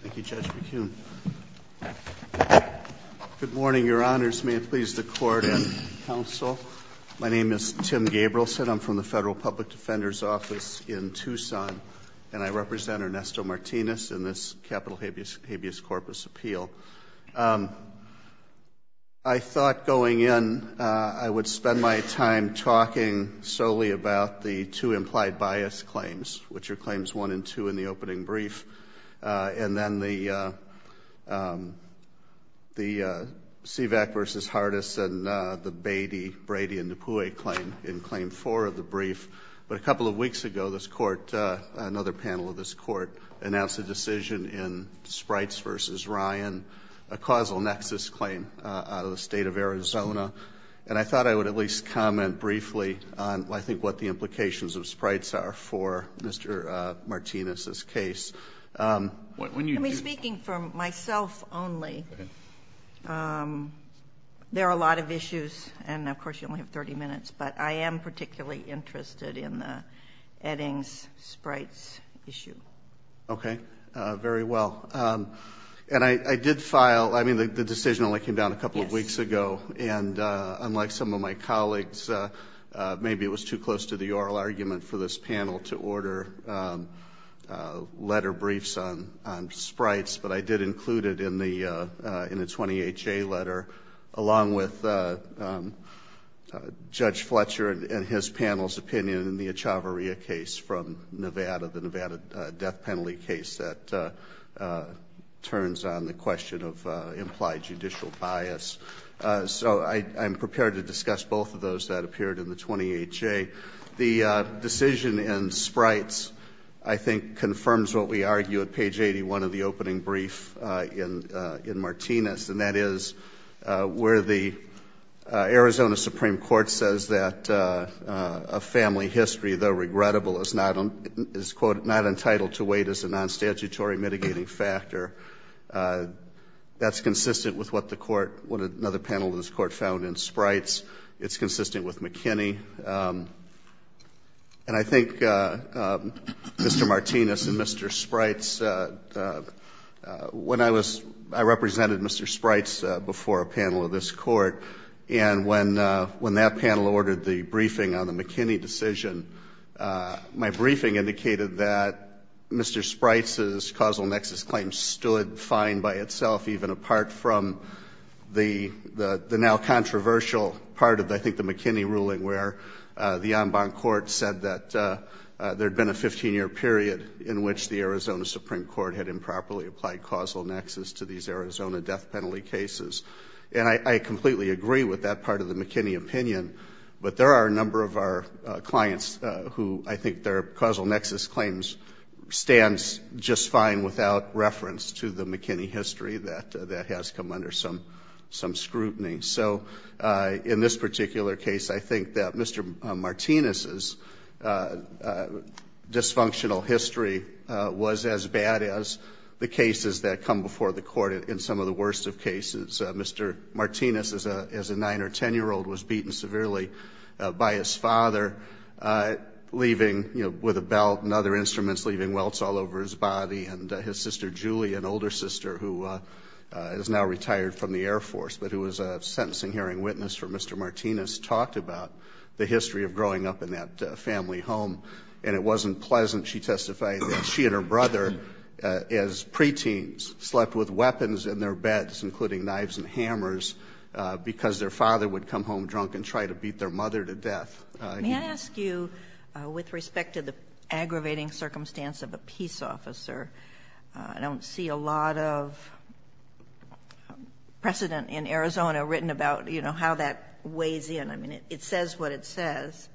Thank you Judge McKeon. Good morning your honors. May it please the court and counsel. My name is Tim Gabrielson. I'm from the Federal Public Defender's Office in Tucson and I represent Ernesto Martinez in this capital habeas corpus appeal. I thought going in I would spend my time talking solely about the two implied bias claims, which are claims one and two in the opening brief. And then the CVAC v. Hardis and the Brady and Dupuis claim in claim four of the brief. But a couple of weeks ago this court, another panel of this court, announced a decision in Sprites v. Ryan, a causal nexus claim out of the state of Arizona. And I thought I would at least comment briefly on, I think, what the implications of Sprites are for Mr. Martinez's case. Judge McKeon Let me speak for myself only. There are a lot of issues and of course you only have 30 minutes, but I am particularly interested in the Eddings Sprites issue. Tim Gabrielson Okay, very well. And I did file, I mean the decision only came down a couple of weeks ago. And unlike some of my colleagues, maybe it was too close to the oral argument for this panel to order letter briefs on Sprites, but I did include it in the 28-J letter along with Judge Fletcher and his panel's opinion in the Echavarria case from Nevada, the Nevada death penalty case that turns on the question of implied judicial bias. So I am prepared to discuss both of those that appeared in the 28-J. The decision in Sprites, I think, confirms what we argue at page 81 of the opening brief in Martinez, and that is where the Arizona Supreme Court says that a family history, though regrettable, is not entitled to wait as a non-statutory mitigating factor. That is consistent with what another panel of this Court found in Sprites. It is consistent with McKinney. And I think Mr. Martinez and Mr. Sprites, when I represented Mr. Sprites before a panel of this Court, and when that panel ordered the briefing on the McKinney decision, my briefing indicated that Mr. Sprites' causal nexus claim stood fine by itself, even apart from the now controversial part of, I think, the McKinney ruling where the en banc court said that there had been a 15-year period in which the Arizona Supreme Court had improperly to these Arizona death penalty cases. And I completely agree with that part of the McKinney opinion, but there are a number of our clients who I think their causal nexus claims stand just fine without reference to the McKinney history that has come under some scrutiny. So in this particular case, I think that Mr. Martinez' dysfunctional history was as bad as the cases that come before the Court in some of the worst of cases. Mr. Martinez, as a 9- or 10-year-old, was beaten severely by his father, leaving with a belt and other instruments, leaving welts all over his body. And his sister, Julie, an older sister who is now retired from the Air Force, but who was a sentencing hearing witness for Mr. Martinez, talked about the history of growing up in that family home. And it wasn't pleasant, she testified, that she and her brother, as preteens, slept with weapons in their beds, including knives and hammers, because their father would come home drunk and try to beat their mother to death. May I ask you, with respect to the aggravating circumstance of a peace officer, I don't see a lot of precedent in Arizona written about, you know, how that weighs in. I mean, it says what it says,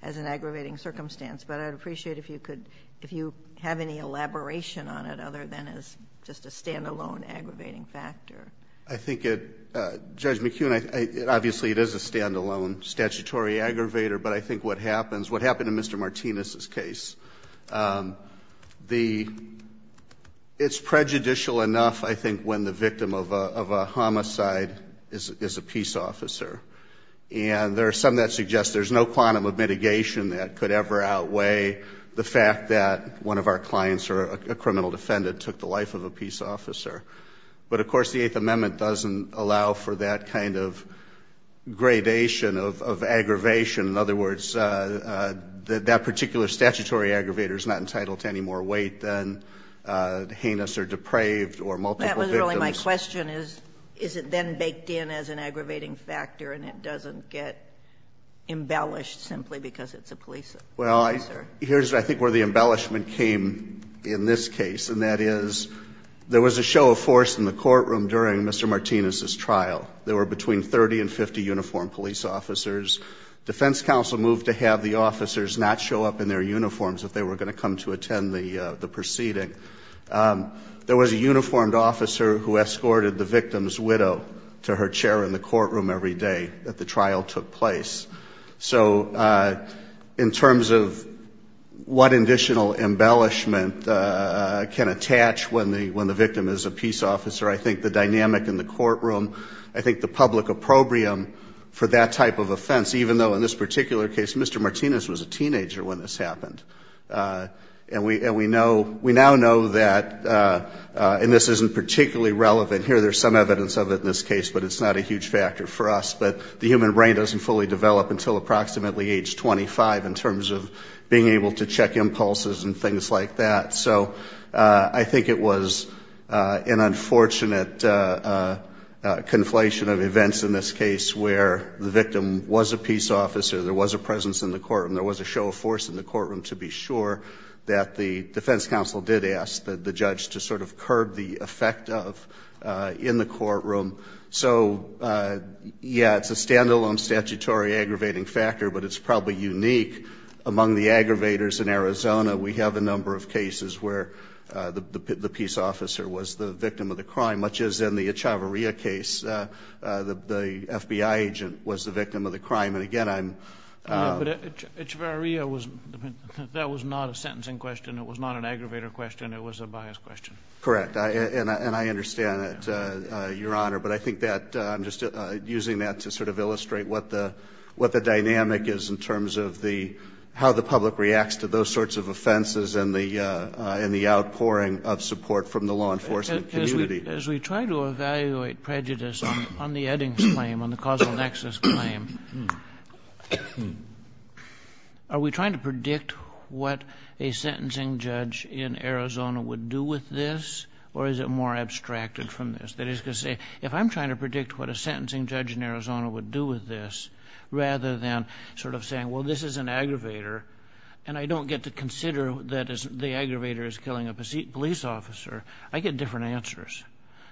as an aggravating circumstance. But I'd appreciate if you could, if you have any elaboration on it, other than as just a stand-alone aggravating factor. I think it, Judge McKeon, obviously it is a stand-alone statutory aggravator, but I think what happens, what happened in Mr. Martinez' case, the, it's prejudicial enough, I think, when the victim of a homicide is a peace officer. And there are some that suggest there's no quantum of mitigation that could ever outweigh the fact that one of our clients or a criminal defendant took the life of a peace officer. But, of course, the Eighth Amendment doesn't allow for that kind of gradation of aggravation. In other words, that particular statutory aggravator is not entitled to any more weight than heinous or depraved or multiple victims. My question is, is it then baked in as an aggravating factor and it doesn't get embellished simply because it's a police officer? Well, here's, I think, where the embellishment came in this case. And that is, there was a show of force in the courtroom during Mr. Martinez' trial. There were between 30 and 50 uniformed police officers. Defense counsel moved to have the officers not show up in their uniforms if they were going to come to attend the proceeding. There was a uniformed officer who escorted the victim's widow to her chair in the courtroom every day that the trial took place. So in terms of what additional embellishment can attach when the victim is a peace officer, I think the dynamic in the courtroom, I think the public opprobrium for that type of offense, even though in this particular case Mr. Martinez was a teenager when this happened. And we there's some evidence of it in this case, but it's not a huge factor for us. But the human brain doesn't fully develop until approximately age 25 in terms of being able to check impulses and things like that. So I think it was an unfortunate conflation of events in this case where the victim was a peace officer, there was a presence in the courtroom, there was a show of force in the courtroom to be sure that the defense counsel did ask the judge to sort of curb the effect of in the courtroom. So, yeah, it's a standalone statutory aggravating factor, but it's probably unique among the aggravators in Arizona. We have a number of cases where the peace officer was the victim of the crime, much as in the Echavarria case, the FBI agent was the victim of the crime. And again, I'm... But Echavarria, that was not a sentencing question. It was not an aggravator question. It was a bias question. Correct. And I understand that, Your Honor. But I think that I'm just using that to sort of illustrate what the dynamic is in terms of how the public reacts to those sorts of offenses and the outpouring of support from the law enforcement community. As we try to evaluate prejudice on the Eddings claim, on the causal nexus claim, are we trying to predict what a sentencing judge in Arizona would do with this? Or is it more abstracted from this? That is to say, if I'm trying to predict what a sentencing judge in Arizona would do with this, rather than sort of saying, well, this is an aggravator, and I don't get to consider that the aggravator is killing a police officer, I get different answers.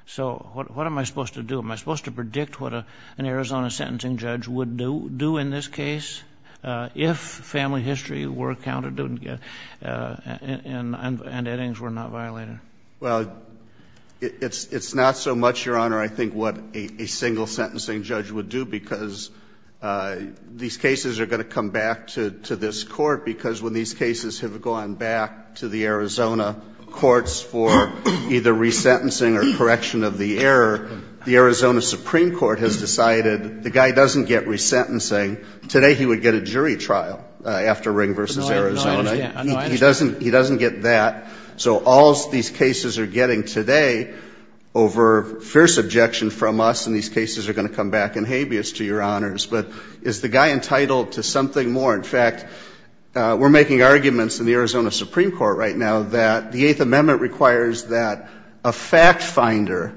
So what am I supposed to do? Am I supposed to predict what an Arizona sentencing judge would do in this case if family history were counted and Eddings were not violated? Well, it's not so much, Your Honor, I think what a single sentencing judge would do, because these cases are going to come back to this Court, because when these cases have gone back to the Arizona courts for either resentencing or correction of the error, the Arizona Supreme Court has decided the guy doesn't get resentencing. Today he would get a jury trial after Ring v. Arizona. No, I understand. He doesn't get that. So all these cases are getting today over fierce objection from us, and these cases are going to come back in habeas to Your Honors. But is the guy entitled to something more? In fact, we're making arguments in the Arizona Supreme Court right now that the Eighth Amendment requires that a fact finder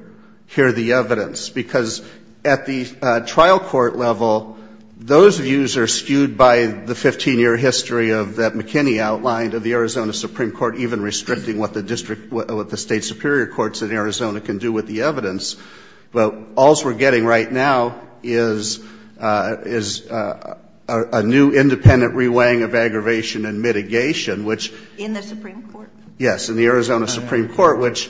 hear the evidence, because at the trial court level, those views are skewed by the 15-year history of that McKinney outlined of the Arizona Supreme Court even restricting what the State Superior Courts in Arizona can do with the evidence. But all's we're getting right now is a new independent reweighing of aggravation and mitigation, which In the Supreme Court? Yes, in the Arizona Supreme Court, which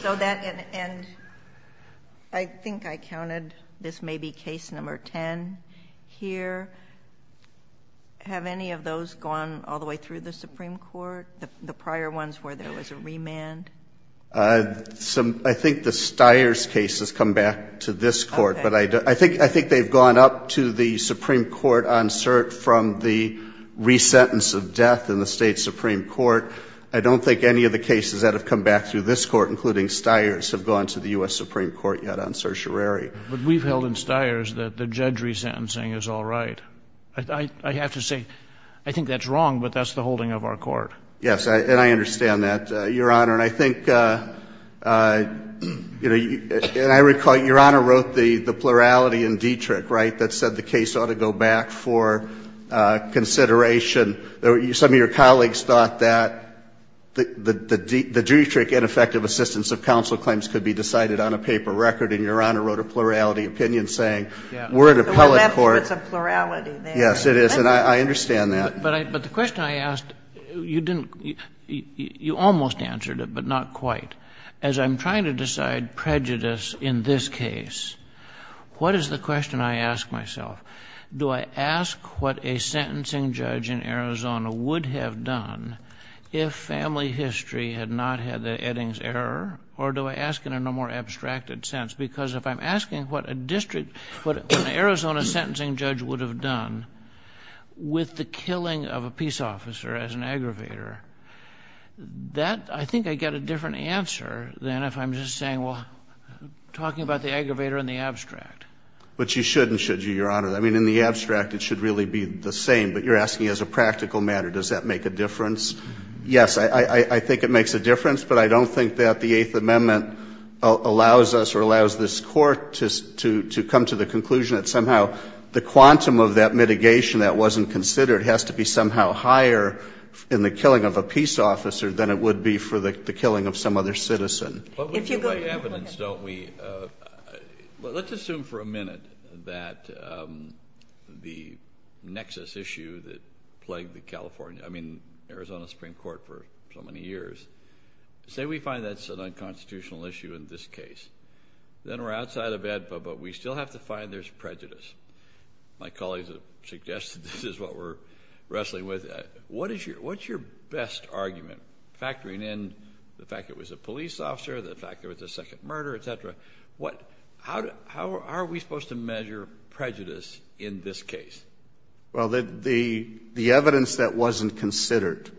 I think I counted this may be case number 10 here. Have any of those gone all the way through the Supreme Court? The prior ones where there was a remand? I think the Stiers case has come back to this Court, but I think they've gone up to the Supreme Court on cert from the re-sentence of death in the State Supreme Court. I don't think any of the cases that have come back through this Court, including Stiers, have gone to the U.S. Supreme Court yet on certiorari. But we've held in Stiers that the judge re-sentencing is all right. I have to say I think that's wrong, but that's the holding of our Court. Yes, and I understand that, Your Honor. And I think, you know, and I recall Your Honor wrote the plurality in Dietrich, right, that said the case ought to go back for consideration. Some of your colleagues thought that the Dietrich ineffective assistance of counsel claims could be decided on a paper record, and Your Honor wrote a plurality opinion saying we're an appellate court. Well, that's what's a plurality there. Yes, it is, and I understand that. But the question I asked, you didn't, you almost answered it, but not quite. As I'm trying to decide prejudice in this case, what is the question I ask myself? Do I ask what a sentencing judge in Arizona would have done if family history had not had the Eddings error, or do I ask in a more abstracted sense? Because if I'm asking what a district, what an Arizona sentencing judge would have done with the killing of a peace officer as an aggravator, that, I think I'd get a different answer than if I'm just saying, well, talking about the aggravator in the abstract. But you should and should you, Your Honor. I mean, in the abstract, it should really be the same, but you're asking as a practical matter. Does that make a difference? Yes, I think it makes a difference, but I don't think that the Eighth Amendment allows us or allows this Court to come to the conclusion that somehow the quantum of that mitigation that wasn't considered has to be somehow higher in the killing of a peace officer than it would be for the killing of some other citizen. But we do like evidence, don't we? Let's assume for a minute that the nexus issue that plagued the California, I mean, Arizona Supreme Court for so many years. Say we find that's an unconstitutional issue in this case. Then we're outside of AEDPA, but we still have to find there's prejudice. My colleagues have suggested this is what we're wrestling with. What's your best argument? Factoring in the fact it was a police officer, the fact there was a second murder, et cetera. How are we supposed to measure prejudice in this case? Well, the evidence that wasn't considered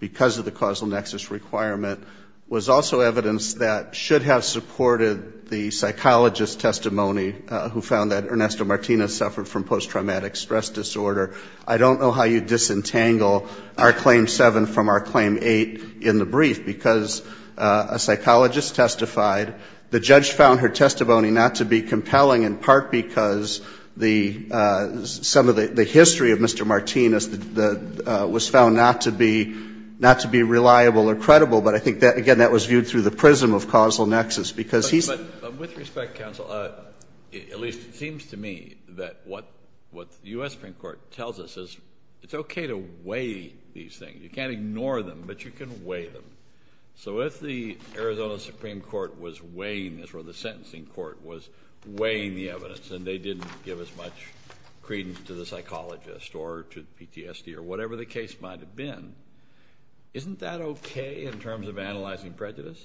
because of the causal nexus requirement was also evidence that should have supported the psychologist testimony who found that Ernesto Martinez suffered from post-traumatic stress disorder. I don't know how you disentangle our Claim 7 from our Claim 8 in the brief because a psychologist testified. The judge found her testimony not to be compelling in part because some of the history of Mr. Martinez was found not to be reliable or credible. But I think, again, that was viewed through the prism of causal nexus. But with respect, counsel, at least it seems to me that what the US Supreme Court tells us is it's okay to weigh these things. You can't ignore them, but you can weigh them. So if the Arizona Supreme Court was weighing this or the sentencing court was weighing the evidence and they didn't give as much credence to the psychologist or to PTSD or whatever the case might have been, isn't that okay in terms of analyzing prejudice?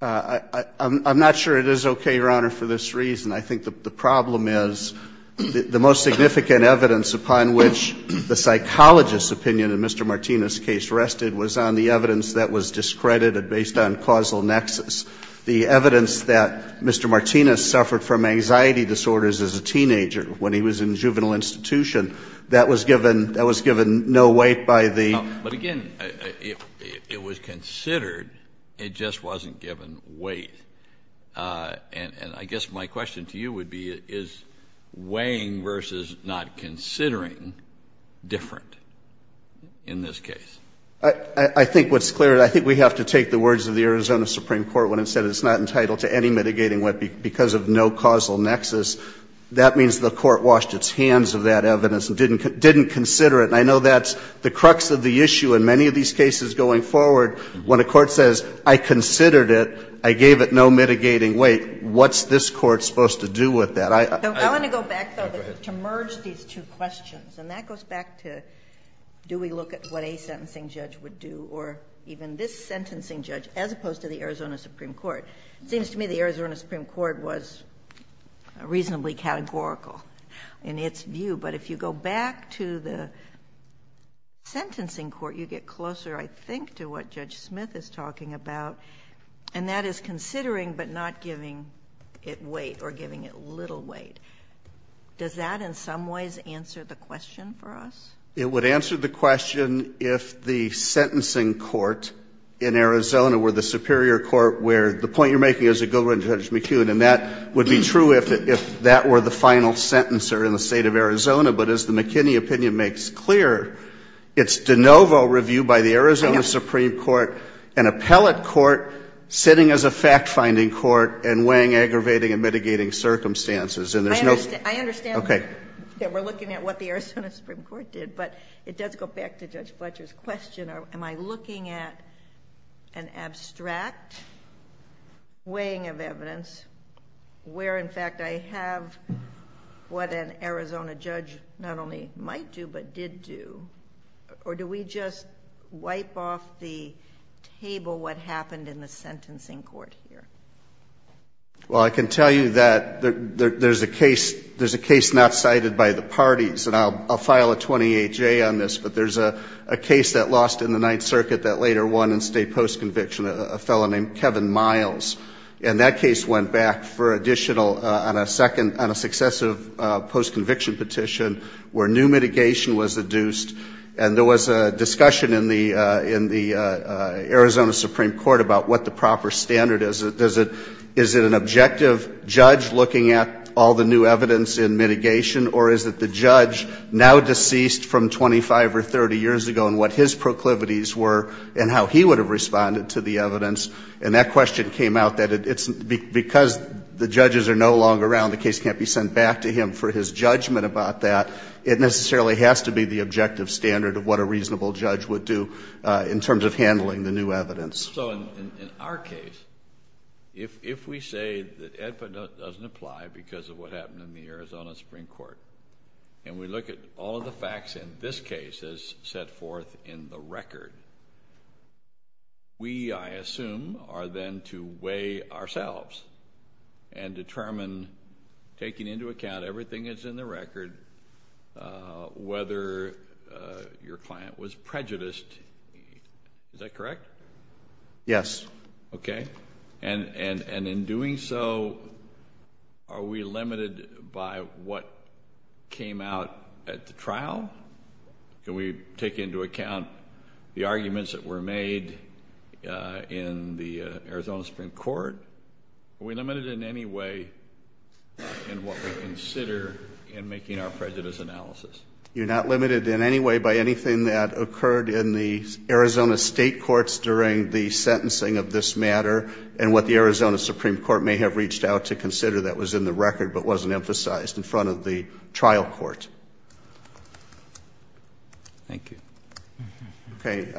I'm not sure it is okay, Your Honor, for this reason. I think the problem is the most significant evidence upon which the psychologist's opinion in Mr. Martinez's case rested was on the evidence that was discredited based on causal nexus. The evidence that Mr. Martinez suffered from anxiety disorders as a teenager when he was in juvenile institution, that was given no weight by the court. But again, it was considered, it just wasn't given weight. And I guess my question to you would be, is weighing versus not considering different in this case? I think what's clear, I think we have to take the words of the Arizona Supreme Court when it said it's not entitled to any mitigating weight because of no causal nexus. That means the court washed its hands of that evidence and didn't consider it. And I know that's the crux of the issue in many of these cases going forward when a court says, I considered it, I gave it no mitigating weight. What's this court supposed to do with that? I want to go back, though, to merge these two questions. And that goes back to do we look at what a sentencing judge would do or even this sentencing judge as opposed to the Arizona Supreme Court? It seems to me the Arizona Supreme Court was more of a sentencing court. You get closer, I think, to what Judge Smith is talking about. And that is considering but not giving it weight or giving it little weight. Does that in some ways answer the question for us? It would answer the question if the sentencing court in Arizona were the superior court where the point you're making is a good one, Judge McKeown. And that would be true if that were the final sentencer in the state of Arizona. But as the court is clear, it's de novo review by the Arizona Supreme Court, an appellate court sitting as a fact-finding court and weighing, aggravating, and mitigating circumstances. I understand that we're looking at what the Arizona Supreme Court did. But it does go back to Judge Fletcher's question. Am I looking at an abstract weighing of evidence where, in fact, I have what an Arizona judge not only might do but did do? Or do we just wipe off the table what happened in the sentencing court here? Well, I can tell you that there's a case not cited by the parties. And I'll file a 28-J on this. But there's a case that lost in the Ninth Circuit that later won in state post-conviction, a fellow named Kevin Miles. And that case went back for additional on a successive post-conviction petition where new mitigation was the introduced. And there was a discussion in the Arizona Supreme Court about what the proper standard is. Is it an objective judge looking at all the new evidence in mitigation or is it the judge now deceased from 25 or 30 years ago and what his proclivities were and how he would have responded to the evidence? And that question came out that it's because the judges are no longer around, the case can't be sent back to him for his judgment about that. It necessarily has to be the objective standard of what a reasonable judge would do in terms of handling the new evidence. So in our case, if we say that Edput doesn't apply because of what happened in the Arizona Supreme Court and we look at all of the facts in this case as set forth in the record, we, I assume, are then to weigh ourselves and determine and taking into account everything that's in the record, whether your client was prejudiced. Is that correct? Yes. Okay. And in doing so, are we limited by what came out at the trial? Can we take into account the arguments that were made in the Arizona Supreme Court? Are we limited in any way in what we consider in making our prejudice analysis? You're not limited in any way by anything that occurred in the Arizona state courts during the sentencing of this matter and what the Arizona Supreme Court may have reached out to consider that was in the record but wasn't emphasized in front of the trial court. Thank you. Okay.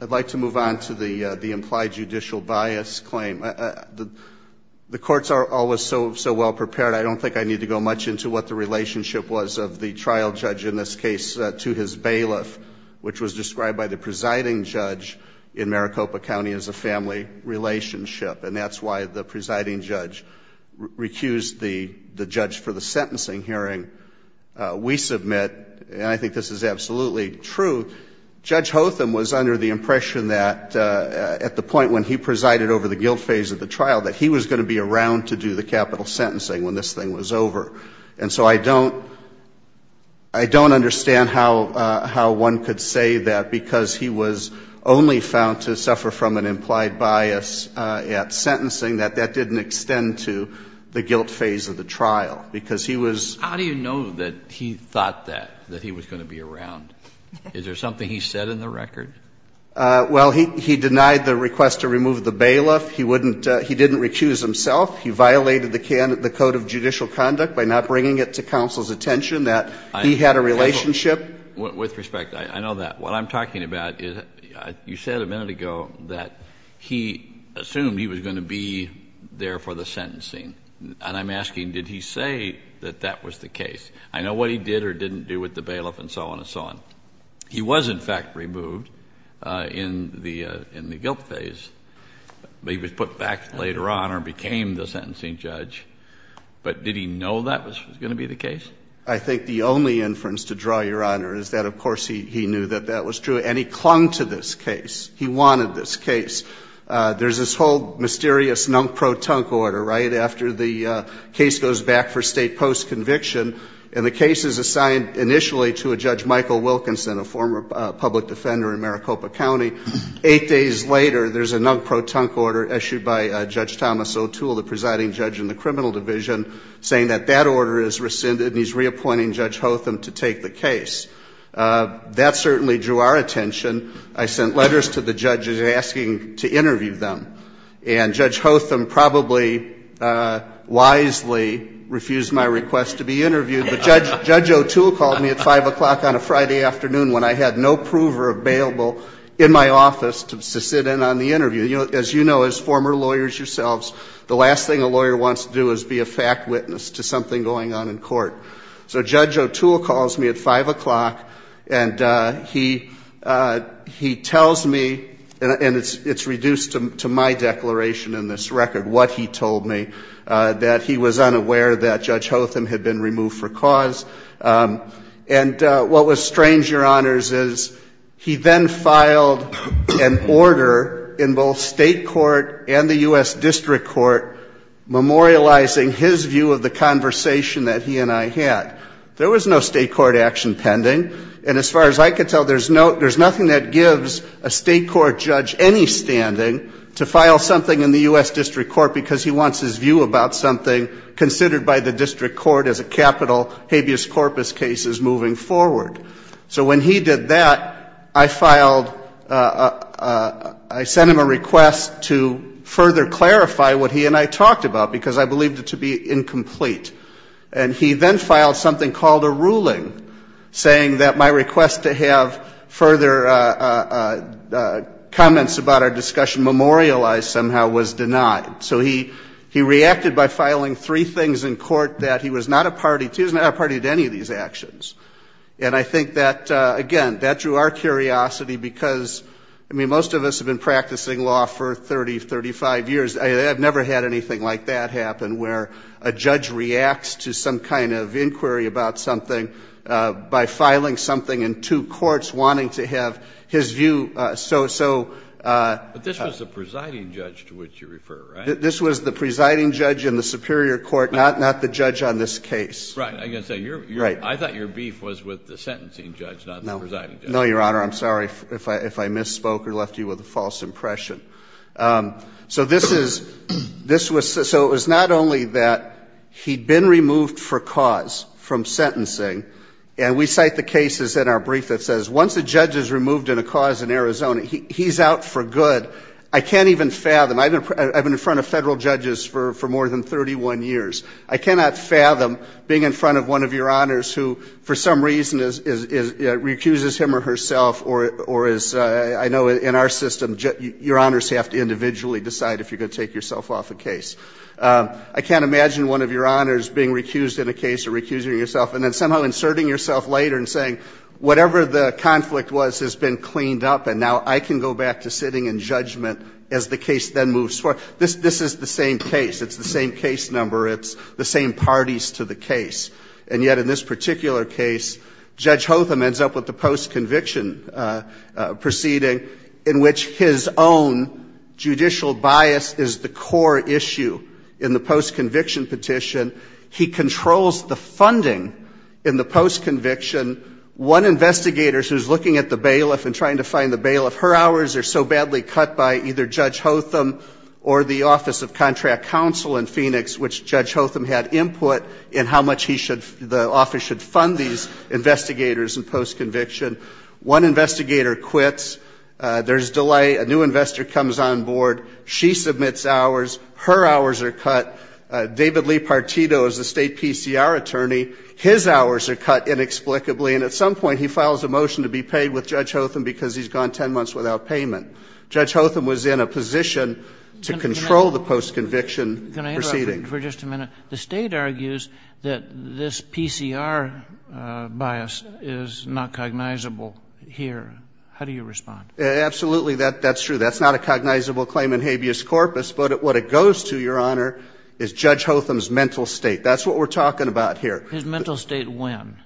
I'd like to move on to the implied judicial bias claim. The courts are always so well prepared. I don't think I need to go much into what the relationship was of the trial judge in this case to his bailiff, which was described by the presiding judge in Maricopa County as a family relationship and that's why the presiding judge recused the judge for the sentencing hearing. We submit, and I think this is absolutely true, Judge Hotham was under the impression that at the point when he presided over the guilt phase of the trial that he was going to be around to do the capital sentencing when this thing was over. And so I don't understand how one could say that because he was only found to suffer from an implied bias at sentencing that that didn't extend to the guilt phase of the trial because he was. How do you know that he thought that, that he was going to be around? Is there something he said in the record? Well, he denied the request to remove the bailiff. He didn't recuse himself. He violated the code of judicial conduct by not bringing it to counsel's attention that he had a relationship. With respect, I know that. What I'm talking about is you said a minute ago that he assumed he was going to be there for the sentencing. And I'm asking, did he say that that was the case? I know what he did or didn't do with the bailiff and so on and so on. He was, in fact, removed in the guilt phase, but he was put back later on or became the sentencing judge. But did he know that was going to be the case? I think the only inference to draw, Your Honor, is that of course he knew that was true and he clung to this case. He wanted this case. There's this whole mysterious nunk-pro-tunk order, right, after the case goes back for state post conviction and the case is assigned initially to a Judge Michael Wilkinson, a former public defender in Maricopa County. Eight days later, there's a nunk-pro-tunk order issued by Judge Thomas O'Toole, the presiding judge in the criminal division, saying that that order is rescinded and he's reappointing Judge Hotham to take the case. That certainly drew our attention. I sent letters to the judges asking to interview them. And Judge Hotham probably wisely refused my request to be interviewed. But Judge O'Toole called me at 5 o'clock on a Friday afternoon when I had no prover available in my office to sit in on the interview. As you know, as former lawyers yourselves, the last thing a lawyer wants to do is be a fact witness to something going on in court. So Judge O'Toole calls me at 5 o'clock and he tells me, and it's reduced to my declaration in this record, what he told me, that he was unaware that Judge Hotham had been removed for cause. And what was strange, Your Honors, is he then filed an order in both state court and the U.S. District Court memorializing his view of the conversation that he and I had. There was no state court action pending. And as far as I could tell, there's no, there's nothing that gives a state court judge any standing to file something in the U.S. District Court because he wants his view about something considered by the district court as a capital habeas corpus case is moving forward. So when he did that, I filed, I sent him a request to further clarify what he and I talked about because I thought it was incomplete. And he then filed something called a ruling saying that my request to have further comments about our discussion memorialized somehow was denied. So he reacted by filing three things in court that he was not a party to, he was not a party to any of these actions. And I think that, again, that drew our curiosity because, I mean, most of us have been practicing law for 30, 35 years. I've never had anything like that happen where a judge reacts to some kind of inquiry about something by filing something in two courts wanting to have his view so, so. But this was the presiding judge to which you refer, right? This was the presiding judge in the superior court, not the judge on this case. Right. I thought your beef was with the sentencing judge, not the presiding judge. No, Your Honor. I'm sorry if I misspoke or left you with a false impression. So this is, so it was not only that he'd been removed for cause from sentencing and we cite the cases in our brief that says once a judge is removed in a cause in Arizona, he's out for good. I can't even fathom, I've been in front of federal judges for more than 31 years. I cannot fathom being in front of one of Your Honors who, for some reason, recuses him or herself or is, I know in our system, Your Honors have to individually decide if you're going to take yourself off a case. I can't imagine one of Your Honors being recused in a case or recusing yourself and then somehow inserting yourself later and saying, whatever the conflict was has been cleaned up and now I can go back to sitting in judgment as the case then moves forward. This is the same case. It's the same case number. It's the same parties to the case. And yet in this particular case, Judge Hotham ends up with the post conviction petition, which his own judicial bias is the core issue in the post conviction petition. He controls the funding in the post conviction. One investigator who's looking at the bailiff and trying to find the bailiff, her hours are so badly cut by either Judge Hotham or the Office of Contract Counsel in Phoenix, which Judge Hotham had input in how much he should, the office should fund these investigators in post conviction. One investigator quits. There's delay. A new investor comes on board. She submits hours. Her hours are cut. David Lee Partito is the state PCR attorney. His hours are cut inexplicably. And at some point he files a motion to be paid with Judge Hotham because he's gone 10 months without payment. Judge Hotham was in a position to control the post conviction proceeding. Can I interrupt for just a minute? The state argues that this PCR bias is not cognizable here. How do you respond? Absolutely. That's true. That's not a cognizable claim in habeas corpus. But what it goes to, Your Honor, is Judge Hotham's mental state. That's what we're talking about here. His mental state when?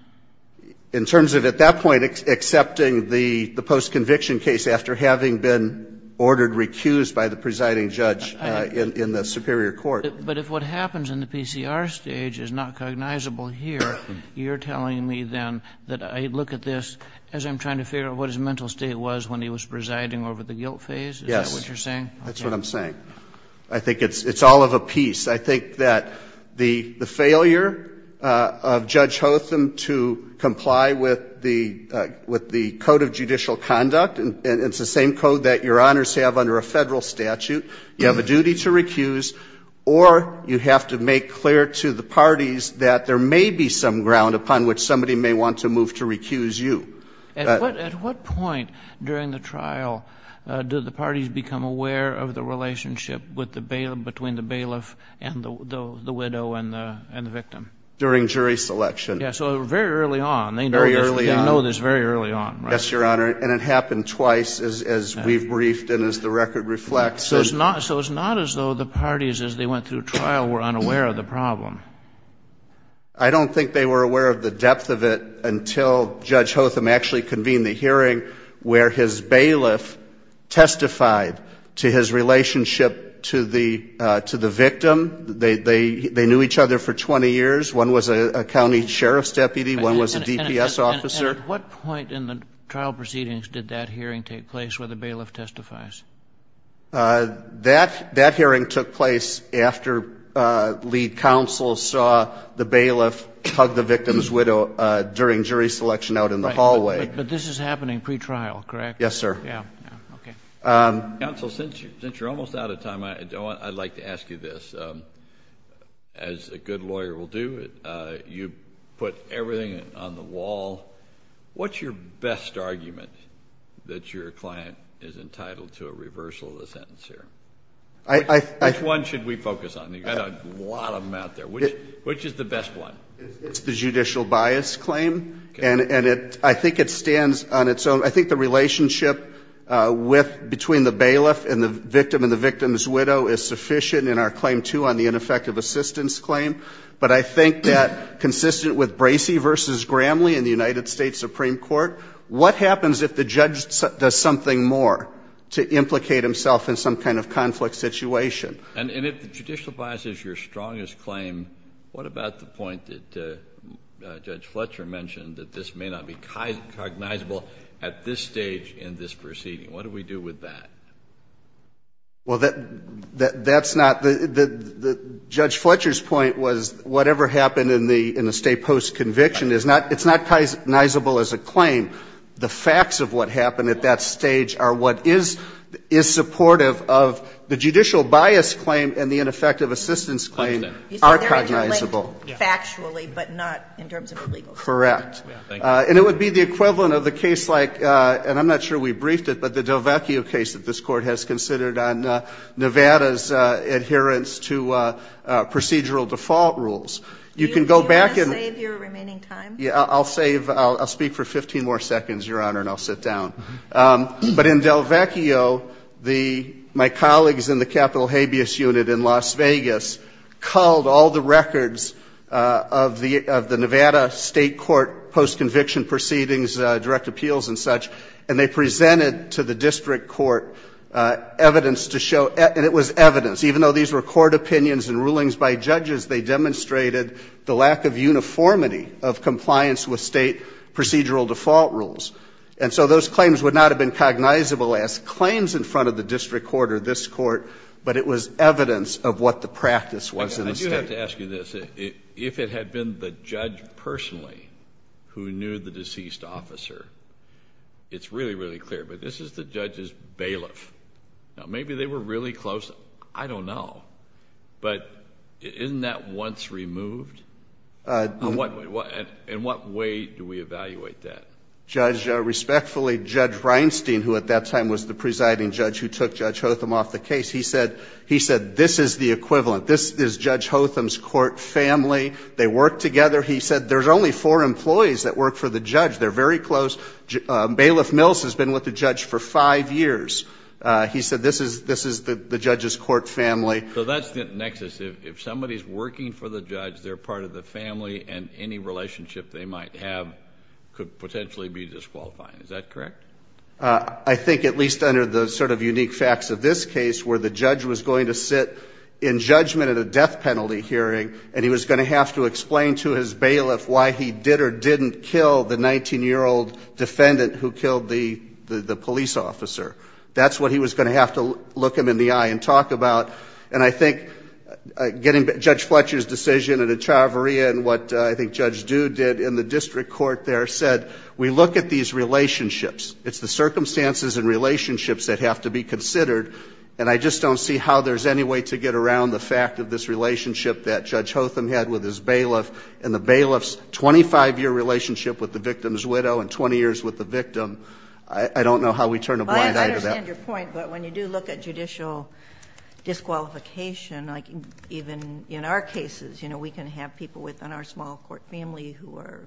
In terms of at that point accepting the post conviction case after having been ordered recused by the presiding judge in the superior court. But if what happens in the PCR stage is not cognizable here, you're telling me then that I look at this as I'm trying to figure out what his mental state was when he was presiding over the guilt phase? Yes. Is that what you're saying? That's what I'm saying. I think it's all of a piece. I think that the failure of Judge Hotham to comply with the code of judicial conduct, and it's the same code that Your Honors have under a federal statute, you have a duty to recuse or you may be some ground upon which somebody may want to move to recuse you. At what point during the trial did the parties become aware of the relationship between the bailiff and the widow and the victim? During jury selection. Yes. So very early on. Very early on. They know this very early on, right? Yes, Your Honor. And it happened twice as we've briefed and as the record reflects. So it's not as though the parties as they went through trial were unaware of the problem? I don't think they were aware of the depth of it until Judge Hotham actually convened the hearing where his bailiff testified to his relationship to the victim. They knew each other for 20 years. One was a county sheriff's deputy, one was a DPS officer. And at what point in the trial proceedings did that hearing take place where the bailiff testifies? That hearing took place after lead counsel saw the bailiff hug the victim's widow during jury selection out in the hallway. But this is happening pre-trial, correct? Yes, sir. Okay. Counsel, since you're almost out of time, I'd like to ask you this. Counsel, what's your best argument that your client is entitled to a reversal of the sentence here? Which one should we focus on? You've got a lot of them out there. Which is the best one? It's the judicial bias claim. And I think it stands on its own. I think the relationship between the bailiff and the victim and the victim's widow is sufficient in our claim two on the ineffective assistance claim. But I think that consistent with Bracey v. Gramley in the United States Supreme Court, what happens if the judge does something more to implicate himself in some kind of conflict situation? And if the judicial bias is your strongest claim, what about the point that Judge Fletcher mentioned that this may not be cognizable at this stage in this proceeding? What do we do with that? Well, that's not the – Judge Fletcher's point was whatever happened in the State Post conviction is not – it's not cognizable as a claim. The facts of what happened at that stage are what is supportive of the judicial bias claim and the ineffective assistance claim are cognizable. He said they're interlinked factually, but not in terms of a legal statement. Correct. And it would be the equivalent of the case like – and I'm not sure we briefed it, but the DelVecchio case that this Court has considered on Nevada's adherence to procedural default rules. You can go back and – Do you want to save your remaining time? Yeah, I'll save – I'll speak for 15 more seconds, Your Honor, and I'll sit down. But in DelVecchio, the – my colleagues in the Capital Habeas Unit in Las Vegas culled all the records of the Nevada State Court post-conviction proceedings, direct appeals and such, and they presented to the district court evidence to show – and it was evidence. Even though these were court opinions and rulings by judges, they demonstrated the lack of uniformity of compliance with State procedural default rules. And so those claims would not have been cognizable as claims in front of the district court or this Court, but it was evidence of what the practice was in the State. I do have to ask you this. If it had been the judge personally who knew the deceased officer, it's really, really clear. But this is the judge's bailiff. Now, maybe they were really close. I don't know. But isn't that once removed? In what way do we evaluate that? Judge, respectfully, Judge Reinstein, who at that time was the presiding judge who took Judge Hotham off the case, he said this is the equivalent. This is Judge Hotham's court family. They work together. He said there's only four employees that work for the judge. They're very close. Bailiff Mills has been with the judge for five years. He said this is the judge's court family. So that's the nexus. If somebody's working for the judge, they're part of the family, and any relationship they might have could potentially be disqualifying. Is that correct? I think at least under the sort of unique facts of this case, where the judge was going to sit in judgment at a death penalty hearing, and he was going to have to explain to his bailiff why he did or didn't kill the 19-year-old defendant who killed the police officer. That's what he was going to have to look him in the eye and talk about. And I think getting Judge Fletcher's decision and at Traveria and what I think Judge Due did in the district court there said we look at these relationships. It's the circumstances and relationships that have to be considered, and I just don't see how there's any way to get around the fact of this relationship that Judge Hotham had with his bailiff and the bailiff's 25-year relationship with the victim's widow and 20 years with the victim. I don't know how we turn a blind eye to that. I understand your point, but when you do look at judicial disqualification, even in our cases, we can have people within our small court family who are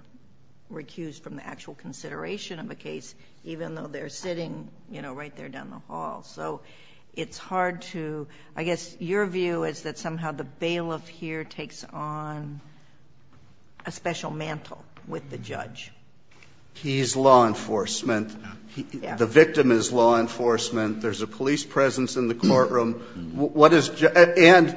recused from the actual consideration of a case, even though they're sitting right there down the hall. So it's hard to – I guess your view is that somehow the bailiff here takes on a special mantle with the judge. He's law enforcement. The victim is law enforcement. There's a police presence in the courtroom. And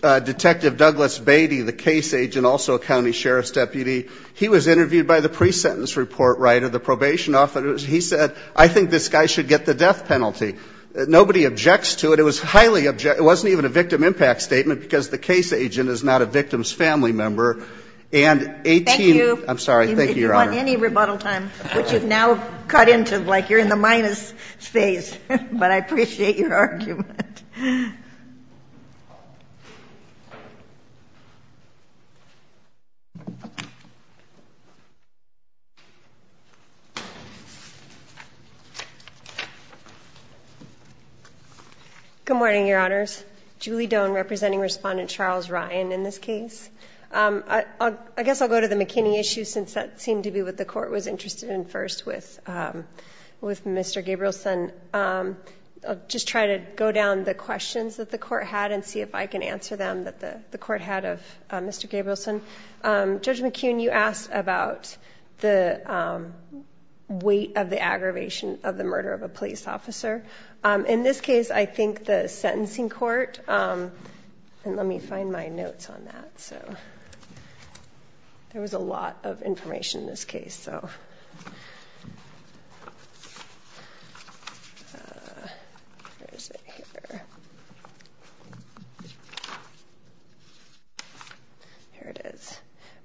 Detective Douglas Beatty, the case agent, also a county sheriff's deputy, he was interviewed by the pre-sentence report writer, the probation officer. He said, I think this guy should get the death penalty. Nobody objects to it. It was highly – it wasn't even a victim impact statement because the case agent is not a victim's family member. And 18 – Thank you. I'm sorry. Thank you, Your Honor. If you want any rebuttal time, which you've now cut into, like you're in the minus phase. But I appreciate your argument. Good morning, Your Honors. Julie Doan, representing Respondent Charles Ryan in this case. I guess I'll go to the McKinney issue since that seemed to be what the court was interested in first with Mr. Gabrielson. I'll just try to go down the questions that the court had and see if I can answer them that the court had of Mr. Gabrielson. Judge McKeon, you asked about the weight of the aggravation of the murder of a police officer. In this case, I think the sentencing court – and let me find my notes on that. There was a lot of information in this case. Here it is.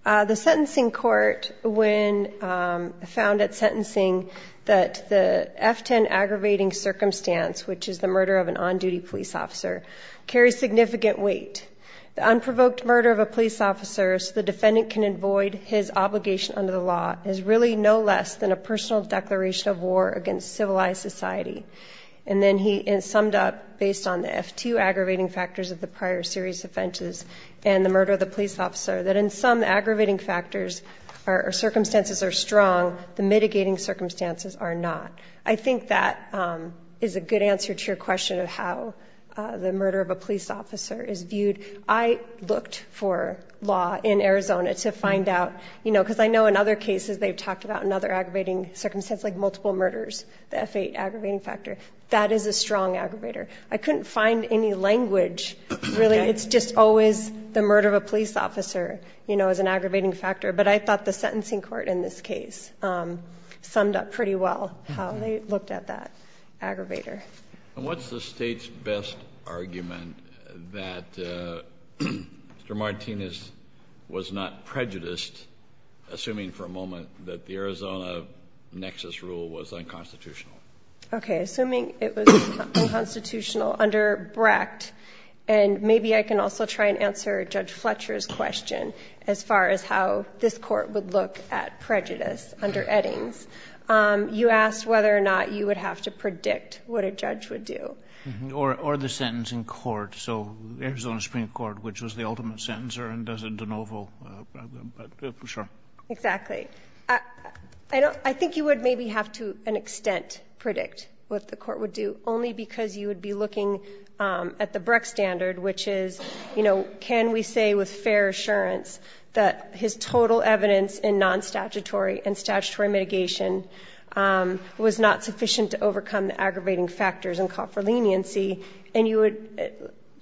The sentencing court, when found at sentencing, that the F-10 aggravating circumstance, which is the murder of an on-duty police officer, carries significant weight. The unprovoked murder of a police officer, so the defendant can avoid his obligation under the law, is really no less than a personal declaration of war against civilized society. And then he summed up, based on the F-2 aggravating factors of the prior serious offenses and the murder of the police officer, that in some aggravating circumstances are strong, the mitigating circumstances are not. I think that is a good answer to your question of how the murder of a police officer is viewed. I looked for law in Arizona to find out, you know, because I know in other cases they've talked about another aggravating circumstance, like multiple murders, the F-8 aggravating factor. That is a strong aggravator. I couldn't find any language, really. It's just always the murder of a police officer, you know, is an aggravating factor. But I thought the sentencing court in this case summed up pretty well how they looked at that aggravator. And what's the State's best argument that Mr. Martinez was not prejudiced, assuming for a moment that the Arizona nexus rule was unconstitutional? Okay, assuming it was unconstitutional under Brecht, and maybe I can also try and answer Judge Fletcher's question as far as how this court would look at prejudice under Eddings. You asked whether or not you would have to predict what a judge would do. Or the sentencing court, so Arizona Supreme Court, which was the ultimate sentencer and doesn't de novo, for sure. Exactly. I think you would maybe have to, to an extent, predict what the court would do, only because you would be looking at the Brecht standard, which is, you know, can we say with fair assurance that his total evidence in non-statutory and statutory mitigation was not sufficient to overcome the aggravating factors and call for leniency? And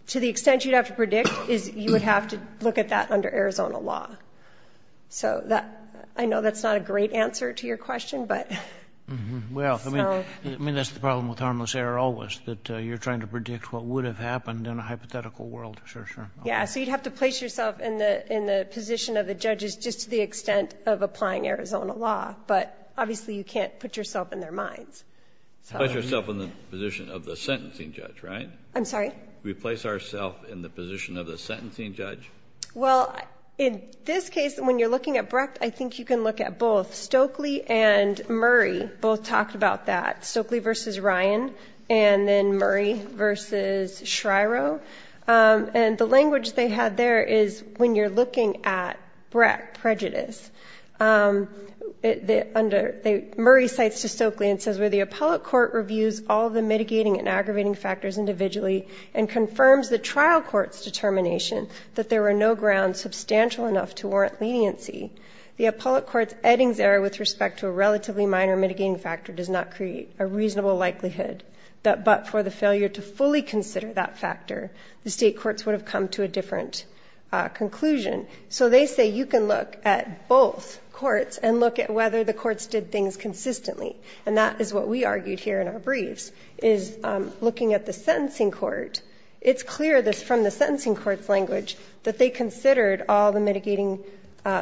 to the extent you'd have to predict is you would have to look at that under Arizona law. So I know that's not a great answer to your question, but... Well, I mean, that's the problem with harmless error always, that you're trying to predict what would have happened in a hypothetical world, for sure. Yeah, so you'd have to place yourself in the position of the judges just to the extent of applying Arizona law, but obviously you can't put yourself in their minds. Put yourself in the position of the sentencing judge, right? I'm sorry? We place ourself in the position of the sentencing judge? Well, in this case, when you're looking at Brecht, I think you can look at both. Stokely and Murray both talked about that, Stokely v. Ryan and then Murray v. Shryo. And the language they had there is when you're looking at Brecht prejudice, Murray cites Stokely and says, where the appellate court reviews all the mitigating and aggravating factors individually and confirms the trial court's determination that there were no grounds substantial enough to warrant leniency, the appellate court's Eddings error with respect to a relatively minor mitigating factor does not create a reasonable likelihood that but for the failure to fully consider that factor, the state courts would have come to a different conclusion. So they say you can look at both courts and look at whether the courts did things consistently. And that is what we argued here in our briefs is looking at the sentencing court. It's clear from the sentencing court's language that they considered all the mitigating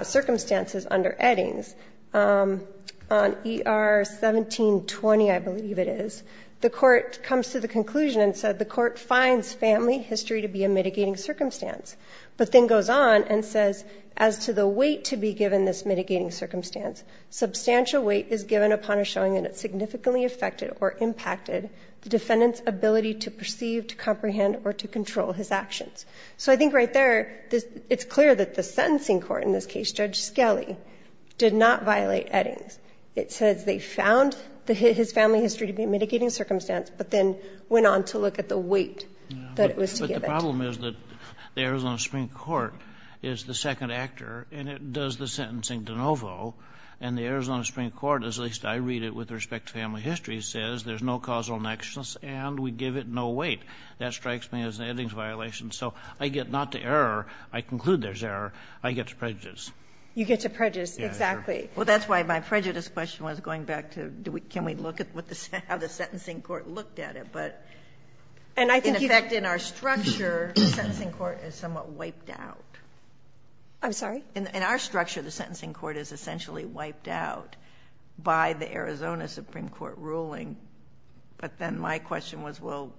circumstances under Eddings. On ER 1720, I believe it is, the court comes to the conclusion and said the court finds family history to be a mitigating circumstance, but then goes on and says as to the weight to be given this mitigating circumstance, substantial weight is given upon a showing that it significantly affected or impacted the defendant's ability to perceive, to comprehend, or to control his actions. So I think right there it's clear that the sentencing court, in this case Judge Skelly, did not violate Eddings. It says they found his family history to be a mitigating circumstance, but then went on to look at the weight that it was to give it. The problem is that the Arizona Supreme Court is the second actor, and it does the sentencing de novo. And the Arizona Supreme Court, at least I read it with respect to family history, says there's no causal nexus and we give it no weight. That strikes me as an Eddings violation. So I get not to error. I conclude there's error. I get to prejudice. You get to prejudice, exactly. Well, that's why my prejudice question was going back to can we look at how the sentencing court looked at it. In effect, in our structure, the sentencing court is somewhat wiped out. I'm sorry? In our structure, the sentencing court is essentially wiped out by the Arizona Supreme Court ruling. But then my question was, well,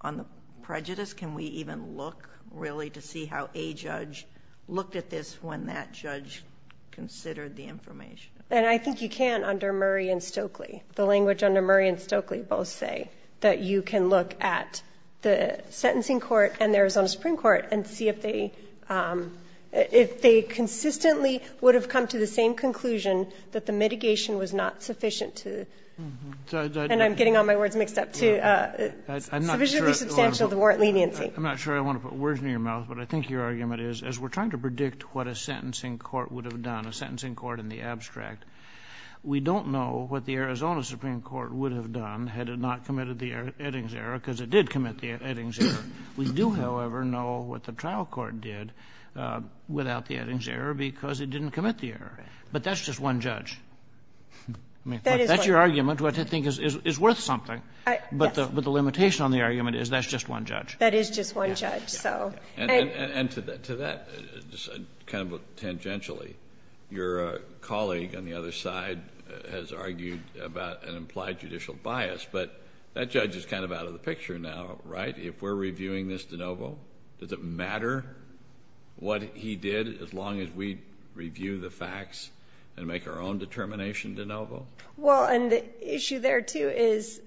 on the prejudice, can we even look really to see how a judge looked at this when that judge considered the information? I think you can under Murray and Stokely. The language under Murray and Stokely both say that you can look at the sentencing court and the Arizona Supreme Court and see if they consistently would have come to the same conclusion that the mitigation was not sufficient to, and I'm getting all my words mixed up, sufficiently substantial to warrant leniency. I'm not sure I want to put words in your mouth, but I think your argument is, as we're trying to predict what a sentencing court would have done, a sentencing court in the abstract, we don't know what the Arizona Supreme Court would have done had it not committed the Eddings error because it did commit the Eddings error. We do, however, know what the trial court did without the Eddings error because it didn't commit the error. But that's just one judge. That's your argument, which I think is worth something. But the limitation on the argument is that's just one judge. That is just one judge. And to that, kind of tangentially, your colleague on the other side has argued about an implied judicial bias, but that judge is kind of out of the picture now, right? If we're reviewing this de novo, does it matter what he did as long as we review the facts and make our own determination de novo? Well, and the issue there, too, is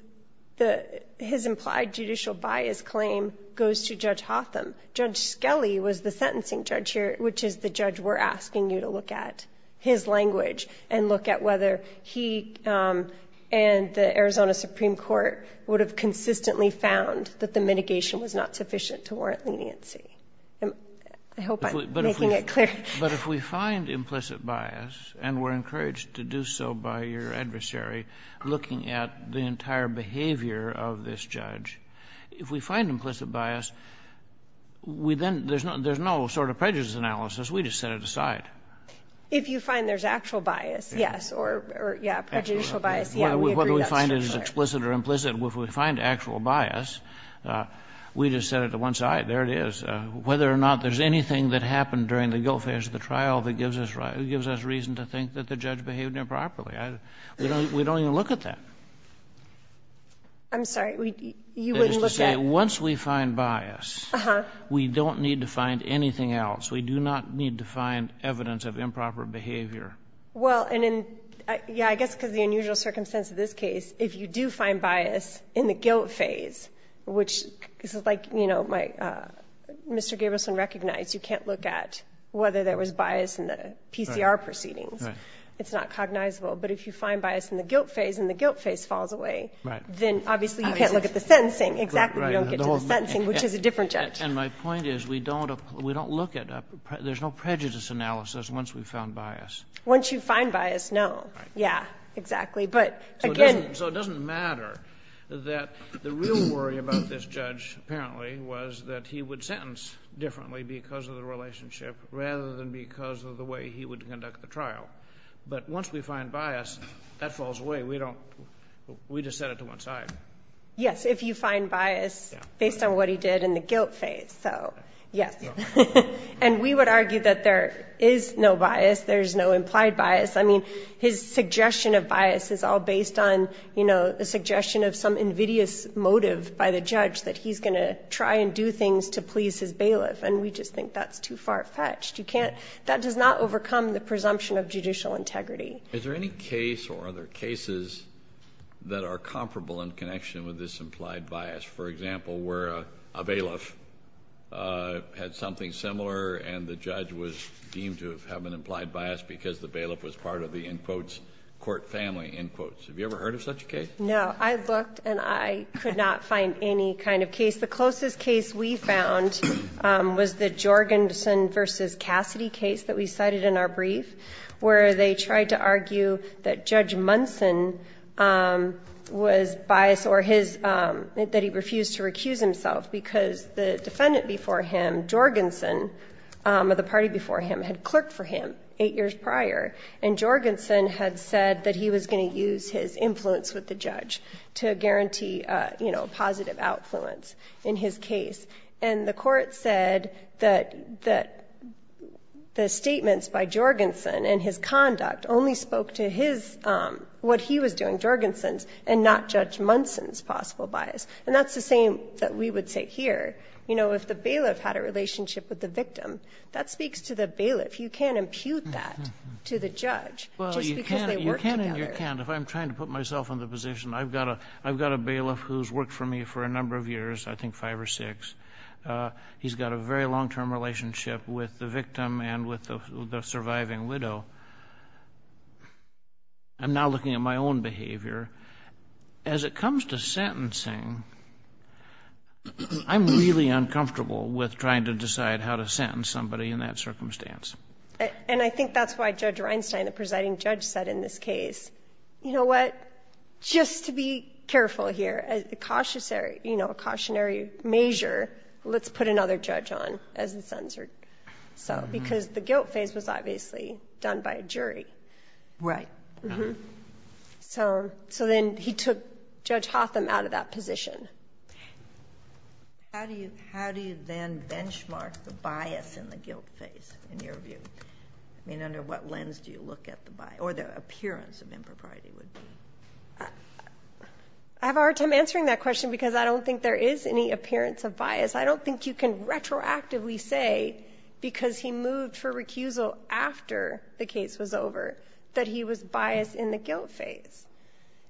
his implied judicial bias claim goes to Judge Hotham. Judge Skelly was the sentencing judge here, which is the judge we're asking you to look at, his language, and look at whether he and the Arizona Supreme Court would have consistently found that the mitigation was not sufficient to warrant leniency. I hope I'm making it clear. But if we find implicit bias, and we're encouraged to do so by your adversary looking at the entire behavior of this judge, if we find implicit bias, we then — there's no sort of prejudice analysis. We just set it aside. If you find there's actual bias, yes, or, yeah, prejudicial bias, yeah, we agree that's true, sure. Whether we find it as explicit or implicit, if we find actual bias, we just set it to one side. There it is. Whether or not there's anything that happened during the guilt phase of the trial that gives us reason to think that the judge behaved improperly. We don't even look at that. I'm sorry. You wouldn't look at — That is to say, once we find bias, we don't need to find anything else. We do not need to find evidence of improper behavior. Well, and in — yeah, I guess because of the unusual circumstance of this case, if you do find bias in the guilt phase, which is like, you know, my — Mr. Gabrielson recognized you can't look at whether there was bias in the PCR proceedings. It's not cognizable. But if you find bias in the guilt phase and the guilt phase falls away, then obviously you can't look at the sentencing. Exactly. You don't get to the sentencing, which is a different judge. And my point is we don't look at — there's no prejudice analysis once we've found bias. Once you find bias, no. Yeah, exactly. So it doesn't matter that the real worry about this judge apparently was that he would sentence differently because of the relationship rather than because of the way he would conduct the trial. But once we find bias, that falls away. We don't — we just set it to one side. Yes, if you find bias based on what he did in the guilt phase. So, yes. And we would argue that there is no bias. There's no implied bias. I mean, his suggestion of bias is all based on, you know, a suggestion of some invidious motive by the judge that he's going to try and do things to please his bailiff. And we just think that's too far-fetched. You can't — that does not overcome the presumption of judicial integrity. Is there any case or other cases that are comparable in connection with this implied bias? For example, where a bailiff had something similar and the judge was deemed to have an implied bias because the bailiff was part of the, in quotes, court family, in quotes. Have you ever heard of such a case? No. I looked and I could not find any kind of case. The closest case we found was the Jorgensen v. Cassidy case that we cited in our brief, where they tried to argue that Judge Munson was biased or his — that he refused to recuse himself because the defendant before him, Jorgensen, or the party before him, had clerked for him eight years prior. And Jorgensen had said that he was going to use his influence with the judge to guarantee, you know, positive outfluence in his case. And the court said that the statements by Jorgensen and his conduct only spoke to his — what he was doing, Jorgensen's, and not Judge Munson's possible bias. And that's the same that we would say here. You know, if the bailiff had a relationship with the victim, that speaks to the bailiff. You can't impute that to the judge just because they work together. Well, you can and you can't. If I'm trying to put myself in the position, I've got a bailiff who's worked for me for a number of years, I think five or six. He's got a very long-term relationship with the victim and with the surviving widow. I'm now looking at my own behavior. As it comes to sentencing, I'm really uncomfortable with trying to decide how to sentence somebody in that circumstance. And I think that's why Judge Reinstein, the presiding judge, said in this case, you know what? Just to be careful here, a cautionary measure, let's put another judge on as the censored. So because the guilt phase was obviously done by a jury. Right. Mm-hmm. So then he took Judge Hotham out of that position. How do you then benchmark the bias in the guilt phase, in your view? I mean, under what lens do you look at the bias or the appearance of impropriety? I have a hard time answering that question because I don't think there is any appearance of bias. I don't think you can retroactively say, because he moved for recusal after the case was over, that he was biased in the guilt phase.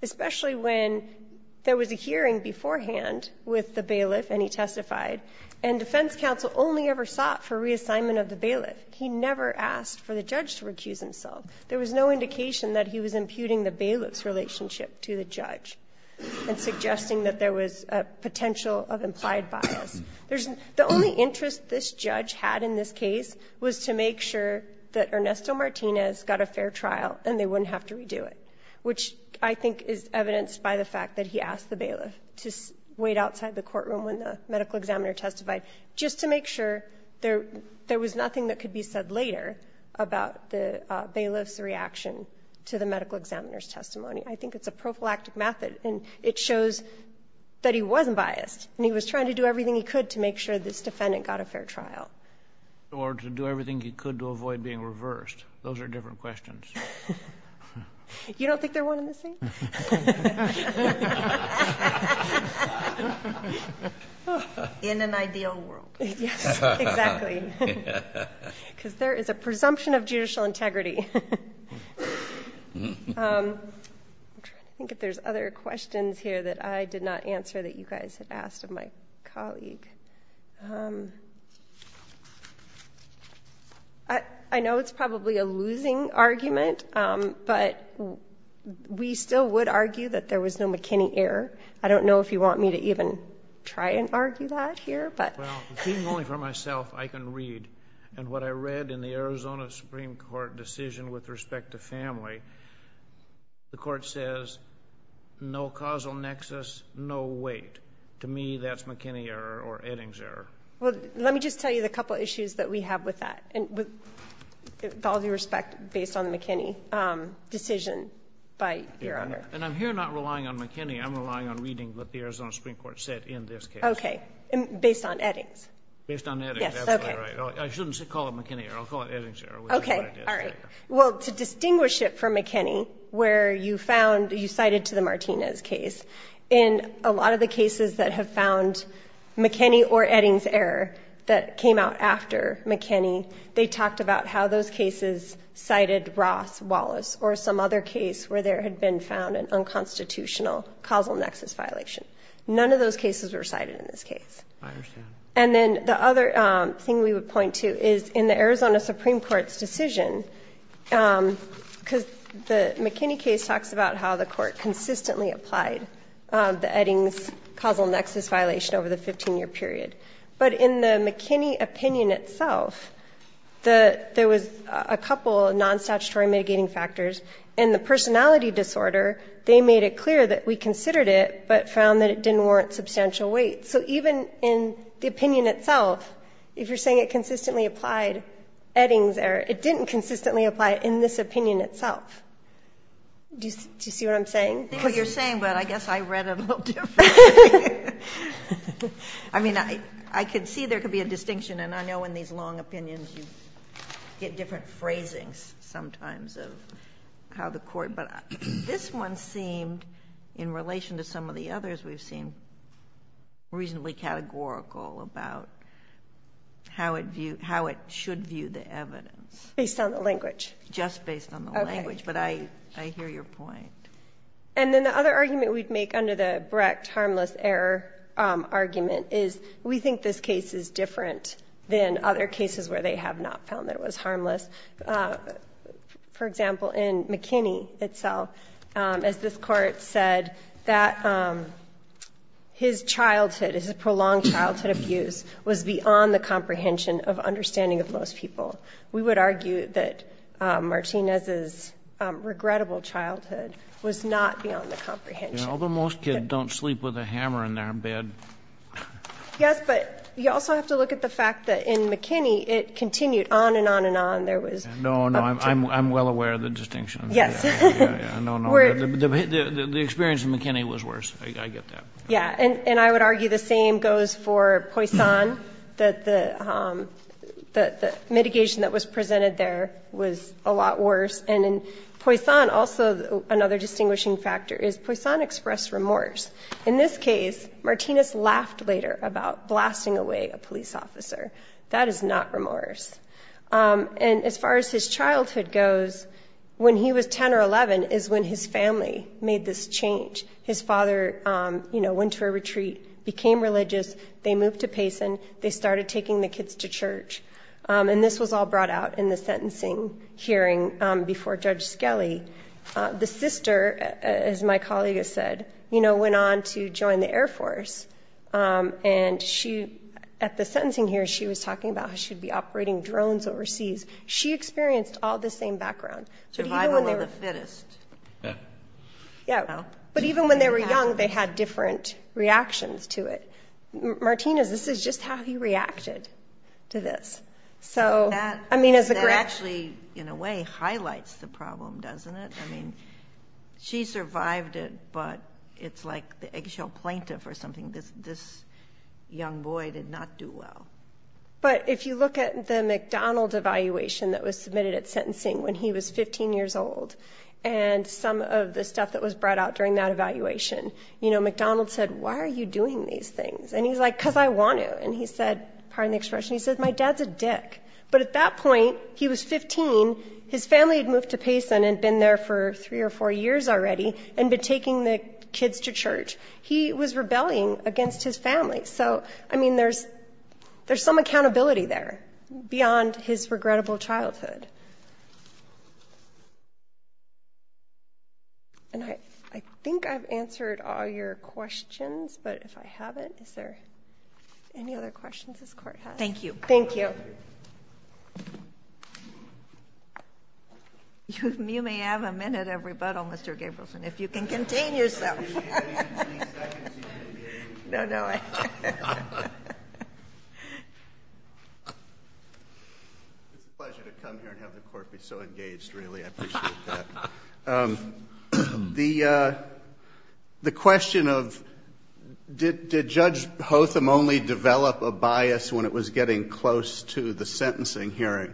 Especially when there was a hearing beforehand with the bailiff and he testified, and defense counsel only ever sought for reassignment of the bailiff. He never asked for the judge to recuse himself. There was no indication that he was imputing the bailiff's relationship to the judge and suggesting that there was a potential of implied bias. The only interest this judge had in this case was to make sure that Ernesto Martinez got a fair trial and they wouldn't have to redo it, which I think is evidenced by the fact that he asked the bailiff to wait outside the courtroom when the medical examiner testified, just to make sure there was nothing that could be said later about the bailiff's reaction to the medical examiner's testimony. I think it's a prophylactic method, and it shows that he wasn't biased, and he was trying to do everything he could to make sure this defendant got a fair trial. Or to do everything he could to avoid being reversed. Those are different questions. You don't think they're one and the same? In an ideal world. Yes, exactly. Because there is a presumption of judicial integrity. I'm trying to think if there's other questions here that I did not answer that you guys had asked of my colleague. I know it's probably a losing argument, but we still would argue that there was no McKinney error. I don't know if you want me to even try and argue that here. Well, seeing only for myself, I can read. And what I read in the Arizona Supreme Court decision with respect to family, the court says, no causal nexus, no weight. To me, that's McKinney error or Eddings error. Well, let me just tell you the couple issues that we have with that, with all due respect, based on the McKinney decision by your honor. And I'm here not relying on McKinney. I'm relying on reading what the Arizona Supreme Court said in this case. Okay. Based on Eddings. Based on Eddings. That's right. I shouldn't call it McKinney error. I'll call it Eddings error. Okay. All right. Well, to distinguish it from McKinney, where you found, you cited to the Martinez case, in a lot of the cases that have found McKinney or Eddings error that came out after McKinney, they talked about how those cases cited Roth, Wallace, or some other case where there had been found an unconstitutional causal nexus violation. None of those cases were cited in this case. I understand. And then the other thing we would point to is in the Arizona Supreme Court's decision, because the McKinney case talks about how the court consistently applied the Eddings causal nexus violation over the 15-year period. But in the McKinney opinion itself, there was a couple of non-statutory mitigating factors. In the personality disorder, they made it clear that we considered it, but found that it didn't warrant substantial weight. So even in the opinion itself, if you're saying it consistently applied Eddings error, it didn't consistently apply in this opinion itself. Do you see what I'm saying? I see what you're saying, but I guess I read it a little differently. And I know in these long opinions, you get different phrasings sometimes of how the court, but this one seemed, in relation to some of the others, we've seen reasonably categorical about how it should view the evidence. Based on the language. Just based on the language, but I hear your point. And then the other argument we'd make under the Brecht harmless error argument is we think this case is different than other cases where they have not found that it was harmless. For example, in McKinney itself, as this court said, that his childhood, his prolonged childhood abuse was beyond the comprehension of understanding of most people. We would argue that Martinez's regrettable childhood was not beyond the comprehension. Although most kids don't sleep with a hammer in their bed. Yes, but you also have to look at the fact that in McKinney, it continued on and on and on. No, no, I'm well aware of the distinction. Yes. No, no, the experience in McKinney was worse. I get that. Yeah, and I would argue the same goes for Poisson, that the mitigation that was presented there was a lot worse. And in Poisson, also another distinguishing factor is Poisson expressed remorse. In this case, Martinez laughed later about blasting away a police officer. That is not remorse. And as far as his childhood goes, when he was 10 or 11 is when his family made this change. His father, you know, went to a retreat, became religious. They moved to Payson. They started taking the kids to church. And this was all brought out in the sentencing hearing before Judge Skelly. The sister, as my colleague has said, you know, went on to join the Air Force. And at the sentencing hearing, she was talking about how she would be operating drones overseas. She experienced all the same background. Survival of the fittest. Yeah, but even when they were young, they had different reactions to it. Martinez, this is just how he reacted to this. That actually, in a way, highlights the problem, doesn't it? I mean, she survived it, but it's like the eggshell plaintiff or something. This young boy did not do well. But if you look at the McDonald evaluation that was submitted at sentencing when he was 15 years old and some of the stuff that was brought out during that evaluation, you know, and he's like, because I want to. And he said, pardon the expression, he said, my dad's a dick. But at that point, he was 15. His family had moved to Payson and had been there for three or four years already and had been taking the kids to church. He was rebelling against his family. So, I mean, there's some accountability there beyond his regrettable childhood. And I think I've answered all your questions, but if I haven't, is there any other questions this Court has? Thank you. Thank you. You may have a minute of rebuttal, Mr. Gabrielson, if you can contain yourself. I'll give you a minute and three seconds if you can contain yourself. No, no. It's a pleasure to come here and have the Court be so engaged, really. I appreciate that. The question of did Judge Hotham only develop a bias when it was getting close to the sentencing hearing,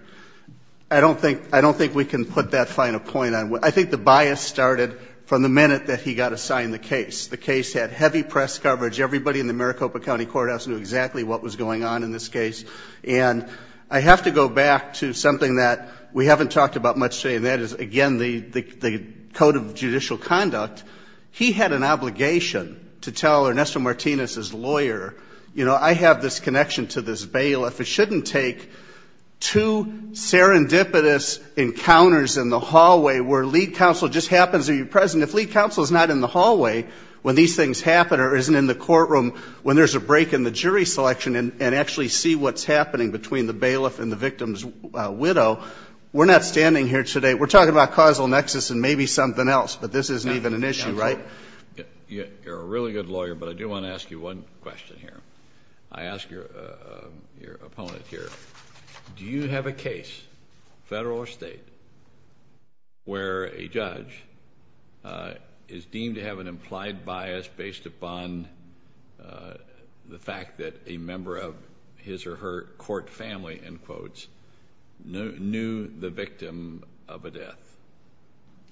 I don't think we can put that final point on. I think the bias started from the minute that he got assigned the case. The case had heavy press coverage. Everybody in the Maricopa County Courthouse knew exactly what was going on in this case. And I have to go back to something that we haven't talked about much today, and that is, again, the Code of Judicial Conduct. He had an obligation to tell Ernesto Martinez, his lawyer, you know, I have this connection to this bail. If it shouldn't take two serendipitous encounters in the hallway where lead counsel just happens to be present. I mean, if lead counsel is not in the hallway when these things happen or isn't in the courtroom when there's a break in the jury selection and actually see what's happening between the bailiff and the victim's widow, we're not standing here today. We're talking about causal nexus and maybe something else, but this isn't even an issue, right? You're a really good lawyer, but I do want to ask you one question here. I ask your opponent here. Do you have a case, federal or state, where a judge is deemed to have an implied bias based upon the fact that a member of his or her court family, in quotes, knew the victim of a death?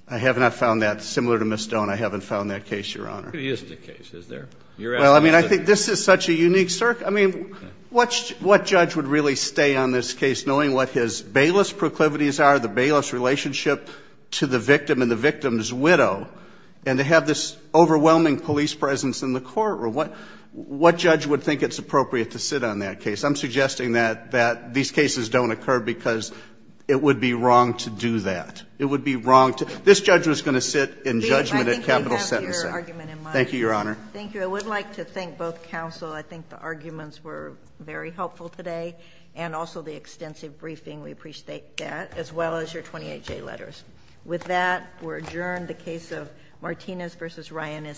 I have not found that. Similar to Ms. Stone, I haven't found that case, Your Honor. It isn't a case, is there? Well, I mean, I think this is such a unique circumstance. I mean, what judge would really stay on this case knowing what his bailiff's proclivities are, the bailiff's relationship to the victim and the victim's widow? And to have this overwhelming police presence in the courtroom, what judge would think it's appropriate to sit on that case? I'm suggesting that these cases don't occur because it would be wrong to do that. It would be wrong to do that. This judge was going to sit in judgment at capital sentencing. Thank you, Your Honor. Thank you. I would like to thank both counsel. I think the arguments were very helpful today, and also the extensive briefing. We appreciate that, as well as your 28-J letters. With that, we're adjourned. The case of Martinez v. Ryan is submitted.